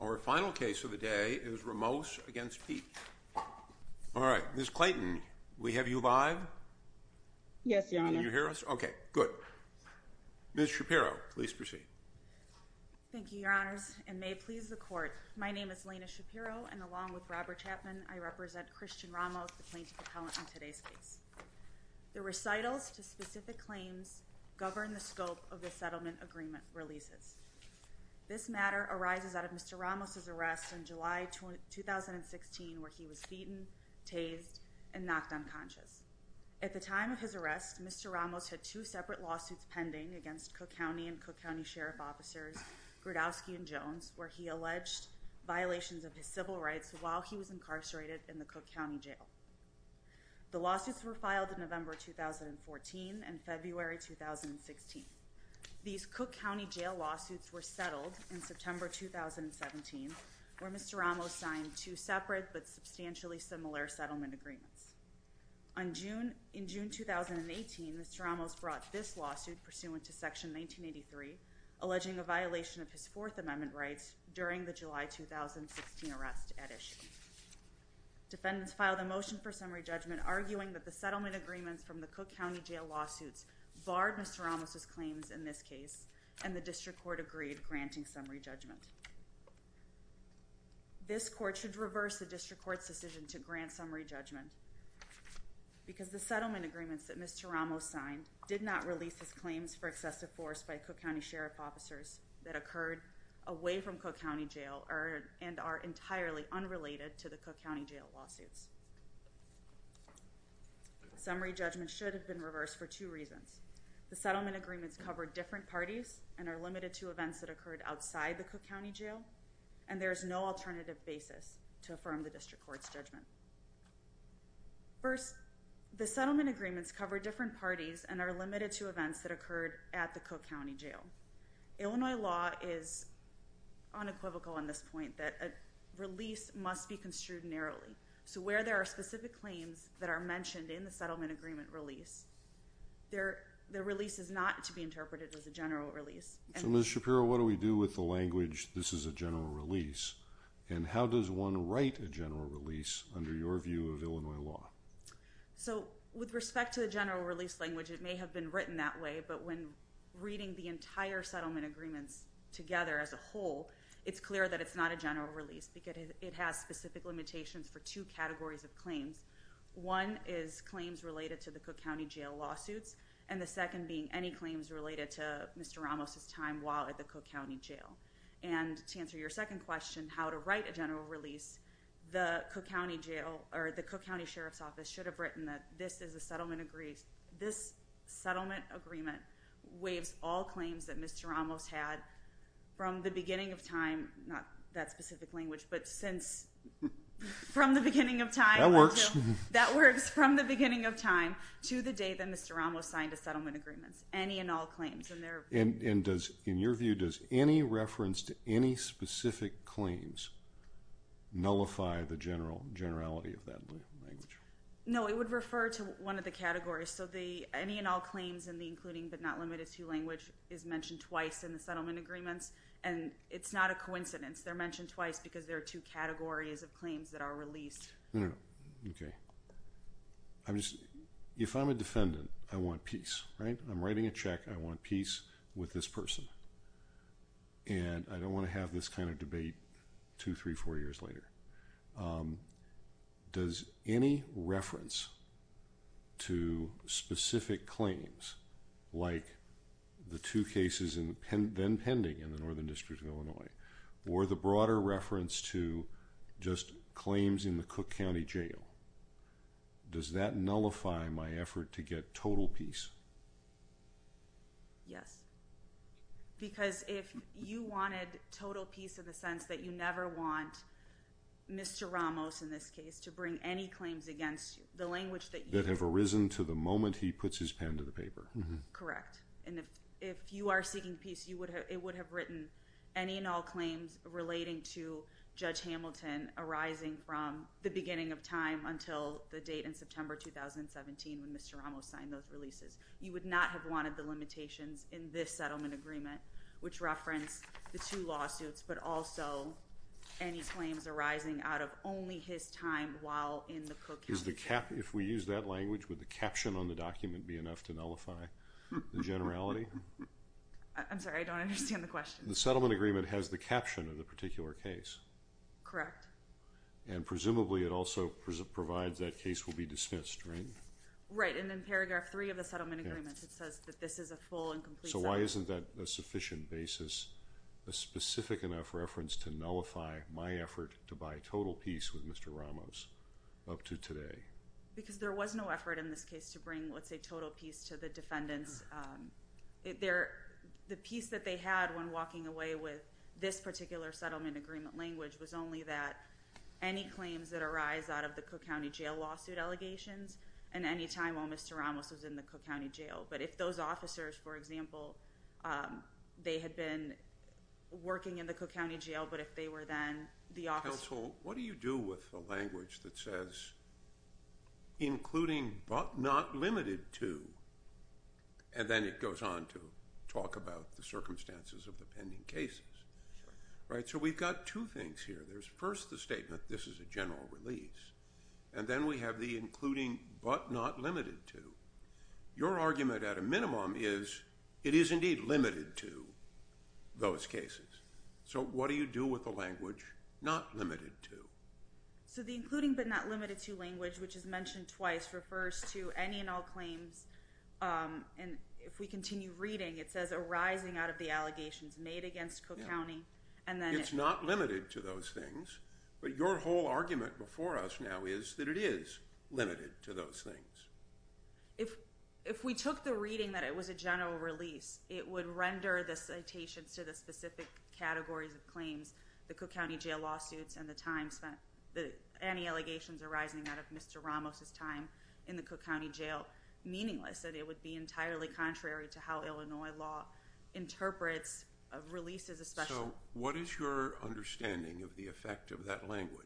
Our final case of the day is Ramos v. Piech All right, Ms. Clayton, we have you live? Yes, Your Honor. Can you hear us? Okay, good. Ms. Shapiro, please proceed. Thank you, Your Honors, and may it please the Court, my name is Lena Shapiro, and along with Robert Chapman, I represent Krzystof Ramos, the plaintiff appellant in today's case. The recitals to specific claims govern the scope of the settlement agreement releases. This matter arises out of Mr. Ramos' arrest in July 2016 where he was beaten, tased, and knocked unconscious. At the time of his arrest, Mr. Ramos had two separate lawsuits pending against Cook County and Cook County Sheriff Officers Grudowski and Jones where he alleged violations of his civil rights while he was incarcerated in the Cook County Jail. The lawsuits were filed in November 2014 and February 2016. These Cook County Jail lawsuits were settled in September 2017 where Mr. Ramos signed two separate but substantially similar settlement agreements. In June 2018, Mr. Ramos brought this lawsuit pursuant to Section 1983 alleging a violation of his Fourth Amendment rights during the July 2016 arrest at issue. Defendants filed a motion for summary judgment arguing that the settlement agreements from the Cook County Jail lawsuits barred Mr. Ramos' claims in this case and the district court agreed granting summary judgment. This court should reverse the district court's decision to grant summary judgment because the settlement agreements that Mr. Ramos signed did not release his claims for excessive force by Cook County Sheriff Officers that occurred away from Cook County Jail and are entirely unrelated to the Cook County Jail lawsuits. Summary judgment should have been reversed for two reasons. The settlement agreements covered different parties and are limited to events that occurred outside the Cook County Jail and there is no alternative basis to affirm the district court's judgment. First, the settlement agreements covered different parties and are limited to events that occurred at the Cook County Jail. Illinois law is unequivocal on this point that a release must be construed narrowly. So where there are specific claims that are mentioned in the settlement agreement release, the release is not to be interpreted as a general release. So Ms. Shapiro, what do we do with the language, this is a general release, and how does one write a general release under your view of Illinois law? So with respect to the general release language, it may have been written that way, but when reading the entire settlement agreements together as a whole, it's clear that it's not a general release because it has specific limitations for two categories of claims. One is claims related to the Cook County Jail lawsuits, and the second being any claims related to Mr. Ramos's time while at the Cook County Jail. And to answer your second question, how to write a general release, the Cook County Sheriff's Office should have written that this settlement agreement waives all claims that Mr. Ramos had from the beginning of time, not that specific language, but since from the beginning of time. That works. That works. From the beginning of time to the day that Mr. Ramos signed a settlement agreement. Any and all claims. And in your view, does any reference to any specific claims nullify the generality of that language? No, it would refer to one of the categories. So the any and all claims and the including but not limited to language is mentioned twice in the settlement agreements, and it's not a coincidence. They're mentioned twice because there are two categories of claims that are released. Okay. If I'm a defendant, I want peace, right? I'm writing a check. I want peace with this person. And I don't want to have this kind of debate two, three, four years later. Does any reference to specific claims like the two cases then pending in the Northern District of Illinois or the broader reference to just claims in the Cook County Jail, does that nullify my effort to get total peace? Yes. Because if you wanted total peace in the sense that you never want Mr. Ramos, in this case, to bring any claims against the language that you have. That have arisen to the moment he puts his pen to the paper. Correct. And if you are seeking peace, it would have written any and all claims relating to Judge Hamilton arising from the beginning of time until the date in September 2017 when Mr. Ramos signed those releases. You would not have wanted the limitations in this settlement agreement, which reference the two lawsuits, but also any claims arising out of only his time while in the Cook County. If we use that language, would the caption on the document be enough to nullify the generality? I'm sorry. I don't understand the question. The settlement agreement has the caption of the particular case. Correct. And presumably it also provides that case will be dismissed, right? Right. And in paragraph three of the settlement agreement, it says that this is a full and complete settlement. So why isn't that a sufficient basis, a specific enough reference to nullify my effort to buy total peace with Mr. Ramos up to today? Because there was no effort in this case to bring, let's say, total peace to the defendants. The peace that they had when walking away with this particular settlement agreement language was only that any claims that arise out of the Cook County Jail lawsuit allegations and any time while Mr. Ramos was in the Cook County Jail. But if those officers, for example, they had been working in the Cook County Jail, but if they were then the office. Counsel, what do you do with the language that says including but not limited to? And then it goes on to talk about the circumstances of the pending cases. Right. So we've got two things here. There's first the statement. This is a general release. And then we have the including but not limited to. Your argument at a minimum is it is indeed limited to those cases. So what do you do with the language not limited to? So the including but not limited to language, which is mentioned twice, refers to any and all claims. And if we continue reading, it says arising out of the allegations made against Cook County. And then it's not limited to those things. But your whole argument before us now is that it is limited to those things. If if we took the reading that it was a general release, it would render the citations to the specific categories of claims. The Cook County Jail lawsuits and the time spent that any allegations arising out of Mr. Ramos's time in the Cook County Jail meaningless that it would be entirely contrary to how Illinois law interprets a release as a special. What is your understanding of the effect of that language?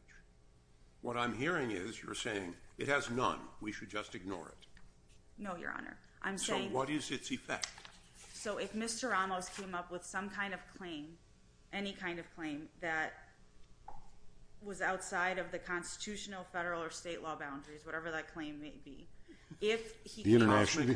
What I'm hearing is you're saying it has none. We should just ignore it. No, Your Honor. I'm saying what is its effect? So if Mr. Ramos came up with some kind of claim, any kind of claim that. Was outside of the constitutional, federal or state law boundaries, whatever that claim may be. If the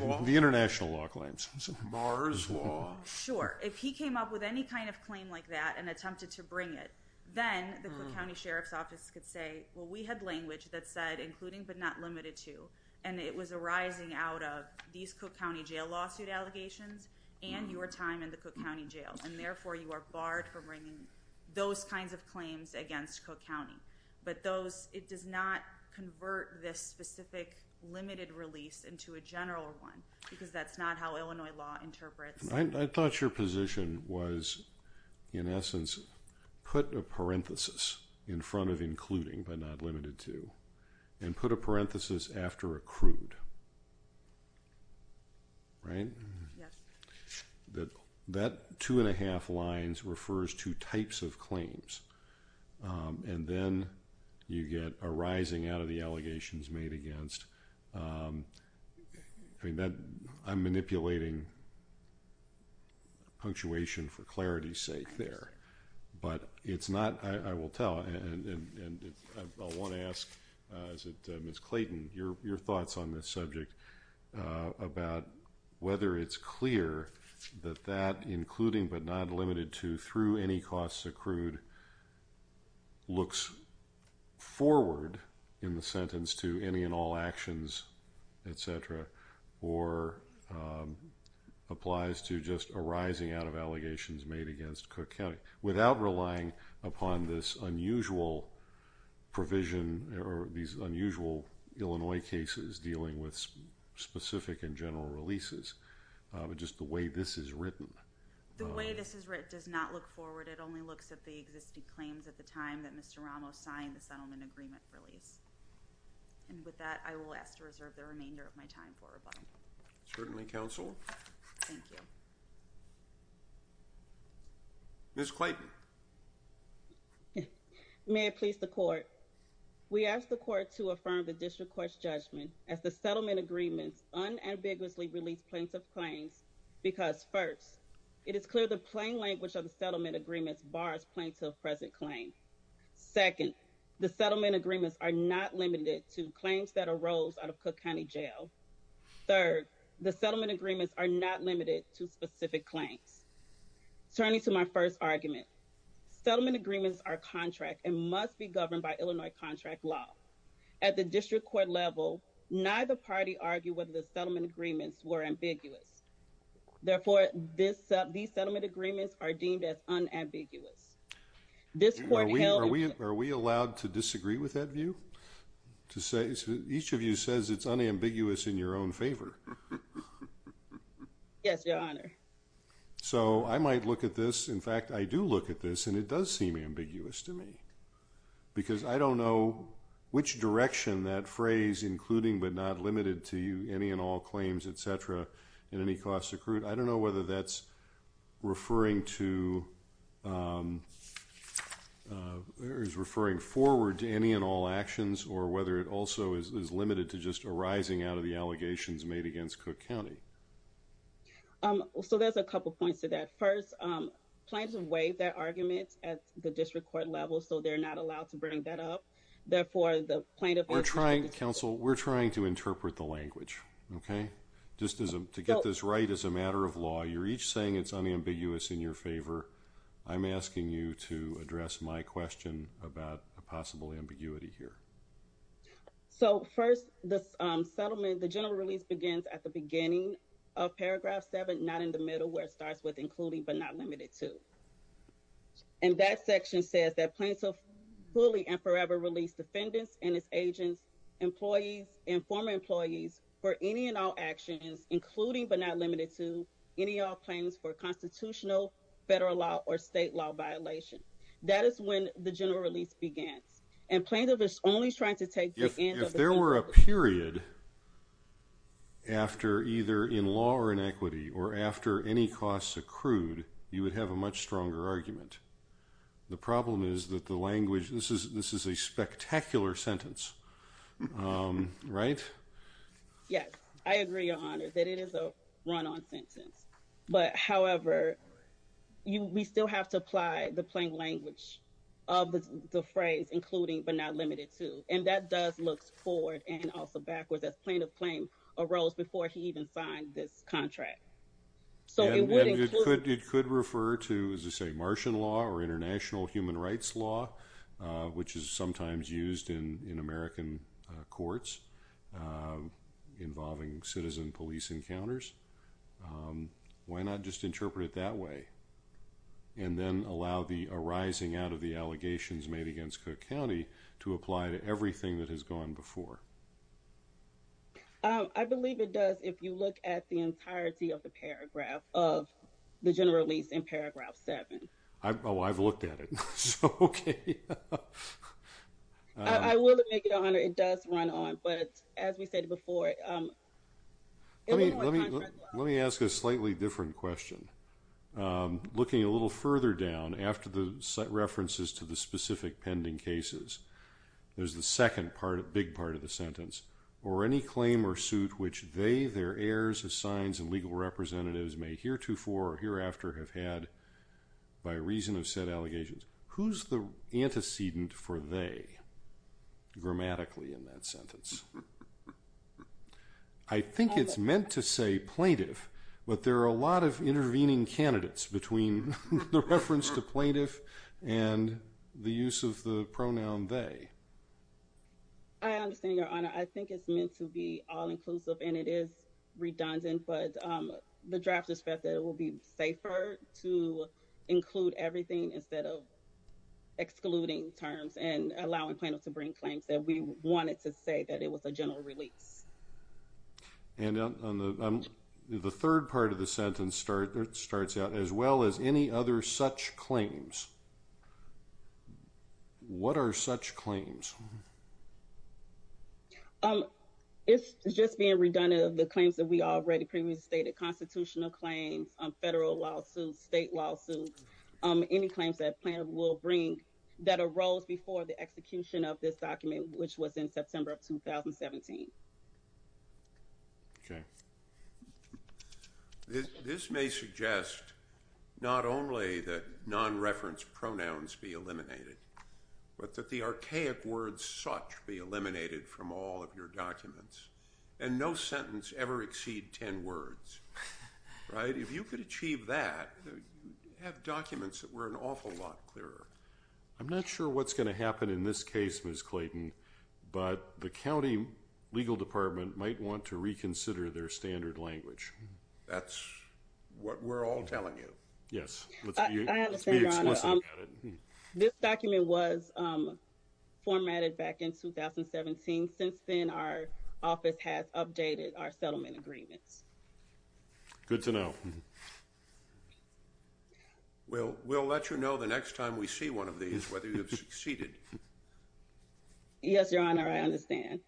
international law claims Mars law. Sure. If he came up with any kind of claim like that and attempted to bring it, then the Cook County Sheriff's Office could say, well, we had language that said including but not limited to. And it was arising out of these Cook County Jail lawsuit allegations and your time in the Cook County Jail. And therefore you are barred from bringing those kinds of claims against Cook County. But those it does not convert this specific limited release into a general one because that's not how Illinois law interprets. I thought your position was, in essence, put a parenthesis in front of including but not limited to and put a parenthesis after accrued. Right. That that two and a half lines refers to types of claims. And then you get a rising out of the allegations made against that. I'm manipulating. Punctuation for clarity's sake there, but it's not. I will tell. And I want to ask Miss Clayton your your thoughts on this subject about whether it's clear that that including but not limited to through any costs accrued. Looks forward in the sentence to any and all actions, et cetera, or applies to just arising out of allegations made against Cook County without relying upon this unusual provision or these unusual Illinois cases dealing with specific and general releases. Just the way this is written. The way this is written does not look forward. It only looks at the existing claims at the time that Mr. Ramos signed the settlement agreement release. And with that, I will ask to reserve the remainder of my time for rebuttal. Certainly, counsel. Thank you. Miss Clayton. May it please the court. We asked the court to affirm the district court's judgment as the settlement agreements unambiguously release plaintiff claims because first, it is clear the plain language of the settlement agreements bars plaintiff present claim. Second, the settlement agreements are not limited to claims that arose out of Cook County jail. Third, the settlement agreements are not limited to specific claims. Turning to my first argument. Settlement agreements are contract and must be governed by Illinois contract law. At the district court level, neither party argue whether the settlement agreements were ambiguous. Therefore, this set these settlement agreements are deemed as unambiguous. This court held. Are we allowed to disagree with that view? To say each of you says it's unambiguous in your own favor. Yes, your honor. So I might look at this. In fact, I do look at this and it does seem ambiguous to me. Because I don't know which direction that phrase including but not limited to you. Any and all claims, etc. In any cost accrued. I don't know whether that's referring to. There is referring forward to any and all actions or whether it also is limited to just arising out of the allegations made against Cook County. So there's a couple points to that. First, plaintiffs have waived their arguments at the district court level. So they're not allowed to bring that up. Therefore, the plaintiff. We're trying to counsel. We're trying to interpret the language. Okay, just as to get this right as a matter of law. You're each saying it's unambiguous in your favor. I'm asking you to address my question about a possible ambiguity here. So first, the settlement, the general release begins at the beginning of paragraph seven, not in the middle where it starts with including but not limited to. And that section says that plaintiff fully and forever release defendants and its agents, employees and former employees for any and all actions, including but not limited to any all claims for constitutional federal law or state law violation. That is when the general release began and plaintiff is only trying to take if there were a period. After either in law or in equity or after any costs accrued, you would have a much stronger argument. The problem is that the language this is this is a spectacular sentence, right? Yes, I agree, your honor, that it is a run on sentence. But however, you we still have to apply the plain language of the phrase, including but not limited to. And that does look forward and also backwards as plaintiff claim arose before he even signed this contract. So it could refer to, as I say, Martian law or international human rights law, which is sometimes used in American courts involving citizen police encounters. Why not just interpret it that way and then allow the arising out of the allegations made against Cook County to apply to everything that has gone before? I believe it does, if you look at the entirety of the paragraph of the general release in paragraph seven. I've I've looked at it. I will make it on it does run on. But as we said before, let me let me let me ask a slightly different question. Looking a little further down after the set references to the specific pending cases. There's the second part of big part of the sentence or any claim or suit which they their heirs of signs and legal representatives may heretofore or hereafter have had by reason of said allegations. Who's the antecedent for they grammatically in that sentence? I think it's meant to say plaintiff, but there are a lot of intervening candidates between the reference to plaintiff and the use of the pronoun they. I understand your honor. I think it's meant to be all inclusive and it is redundant. But the draft respect that it will be safer to include everything instead of excluding terms and allowing plaintiff to bring claims that we wanted to say that it was a general release. And on the third part of the sentence start starts out as well as any other such claims. What are such claims? It's just being redundant of the claims that we already previously stated constitutional claims, federal lawsuits, state lawsuits, any claims that plan will bring that arose before the execution of this document, which was in September of 2017. OK. This may suggest not only that non reference pronouns be eliminated, but that the archaic words such be eliminated from all of your documents and no sentence ever exceed 10 words. Right. If you could achieve that, have documents that were an awful lot clearer. I'm not sure what's going to happen in this case, Ms. Clayton, but the county legal department might want to reconsider their standard language. That's what we're all telling you. Yes. This document was formatted back in 2017. Since then, our office has updated our settlement agreements. Good to know. Well, we'll let you know the next time we see one of these, whether you have succeeded. Yes, your honor. I understand.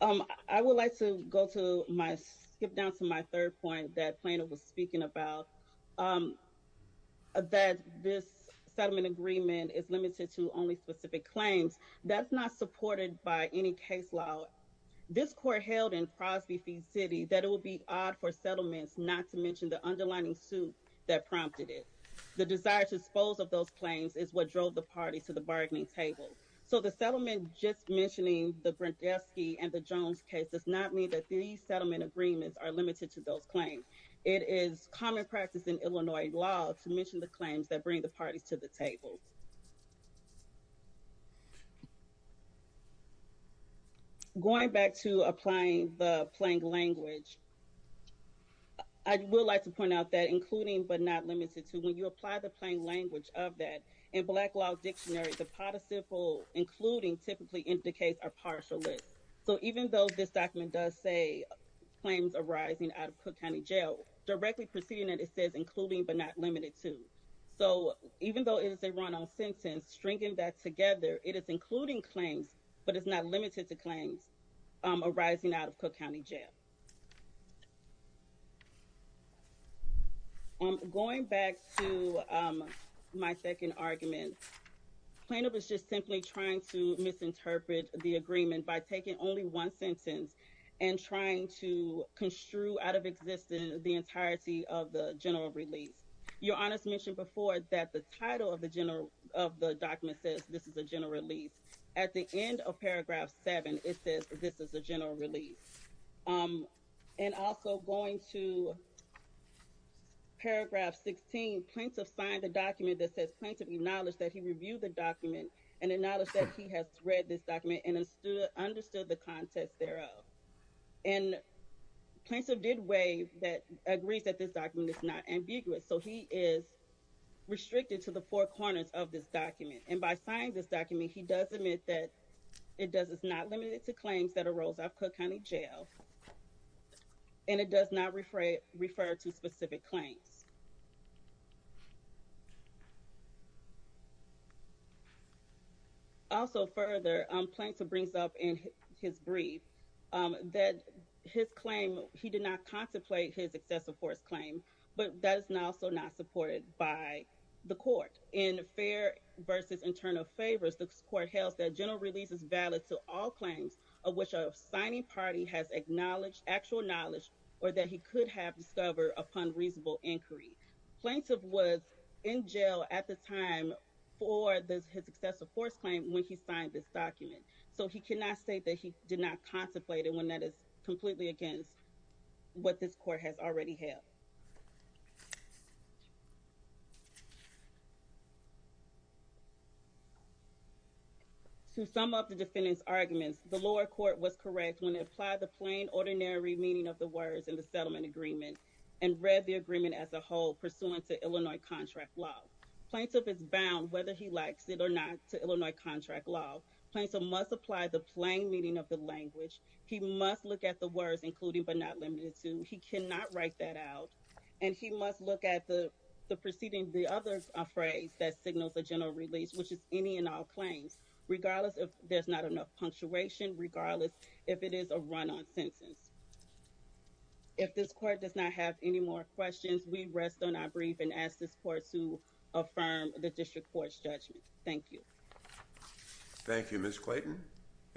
I would like to go to my skip down to my third point that plaintiff was speaking about. That this settlement agreement is limited to only specific claims that's not supported by any case law. This court held in Crosby City that it will be odd for settlements, not to mention the underlining suit that prompted it. The desire to dispose of those claims is what drove the party to the bargaining table. So the settlement just mentioning the Brzezinski and the Jones case does not mean that these settlement agreements are limited to those claims. It is common practice in Illinois law to mention the claims that bring the parties to the table. Going back to applying the plain language, I would like to point out that including but not limited to. When you apply the plain language of that in black law dictionary, the participle including typically indicates a partial list. So even though this document does say claims arising out of Cook County Jail, directly preceding it, it says including but not limited to. So even though it is a run on sentence, stringing that together, it is including claims but it's not limited to claims arising out of Cook County Jail. Going back to my second argument, plaintiff was just simply trying to misinterpret the agreement by taking only one sentence and trying to construe out of existence the entirety of the general release. Your Honor has mentioned before that the title of the document says this is a general release. At the end of paragraph 7, it says this is a general release. And also going to paragraph 16, plaintiff signed a document that says plaintiff acknowledged that he reviewed the document and acknowledged that he has read this document and understood the context thereof. And plaintiff did waive that agrees that this document is not ambiguous. So he is restricted to the four corners of this document. And by signing this document, he does admit that it is not limited to claims that arose out of Cook County Jail. And it does not refer to specific claims. Also further, plaintiff brings up in his brief that his claim, he did not contemplate his excessive force claim, but that is also not supported by the court. In fair versus internal favors, the court held that general release is valid to all claims of which a signing party has acknowledged actual knowledge or that he could have discovered upon reasonable inquiry. Plaintiff was in jail at the time for his excessive force claim when he signed this document. So he cannot state that he did not contemplate it when that is completely against what this court has already held. To sum up the defendant's arguments, the lower court was correct when it applied the plain, ordinary meaning of the words in the settlement agreement and read the agreement as a whole pursuant to Illinois contract law. Plaintiff is bound, whether he likes it or not, to Illinois contract law. Plaintiff must apply the plain meaning of the language. He must look at the words, including but not limited to. He cannot write that out. And he must look at the proceeding, the other phrase that signals a general release, which is any and all claims, regardless if there's not enough punctuation, regardless if it is a run-on sentence. If this court does not have any more questions, we rest on our brief and ask this court to affirm the district court's judgment. Thank you. Thank you, Ms. Clayton.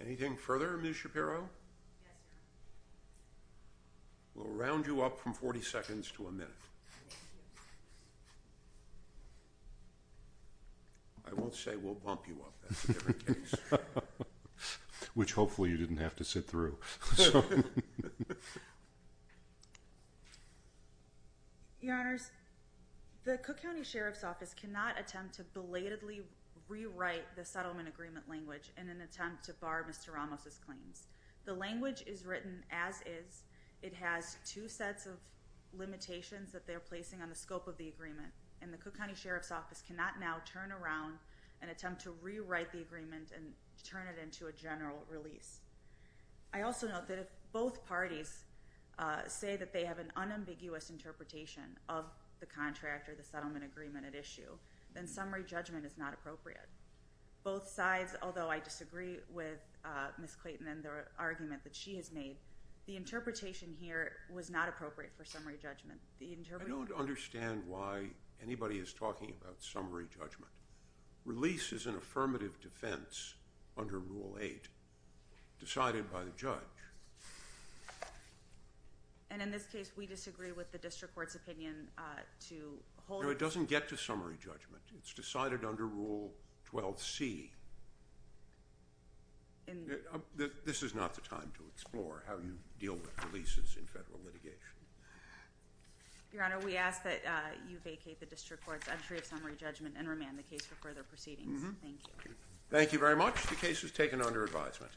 Anything further, Ms. Shapiro? Yes, sir. We'll round you up from 40 seconds to a minute. I won't say we'll bump you up. That's a different case. Which hopefully you didn't have to sit through. Your Honors, the Cook County Sheriff's Office cannot attempt to belatedly rewrite the settlement agreement language in an attempt to bar Mr. Ramos' claims. The language is written as is. It has two sets of limitations that they're placing on the scope of the agreement. And the Cook County Sheriff's Office cannot now turn around and attempt to rewrite the agreement and turn it into a general release. I also note that if both parties say that they have an unambiguous interpretation of the contract or the settlement agreement at issue, then summary judgment is not appropriate. Both sides, although I disagree with Ms. Clayton and the argument that she has made, the interpretation here was not appropriate for summary judgment. I don't understand why anybody is talking about summary judgment. Release is an affirmative defense under Rule 8. Decided by the judge. And in this case, we disagree with the District Court's opinion to hold... No, it doesn't get to summary judgment. It's decided under Rule 12c. This is not the time to explore how you deal with releases in federal litigation. Your Honor, we ask that you vacate the District Court's entry of summary judgment and remand the case for further proceedings. Thank you. Thank you very much. The case is taken under advisement.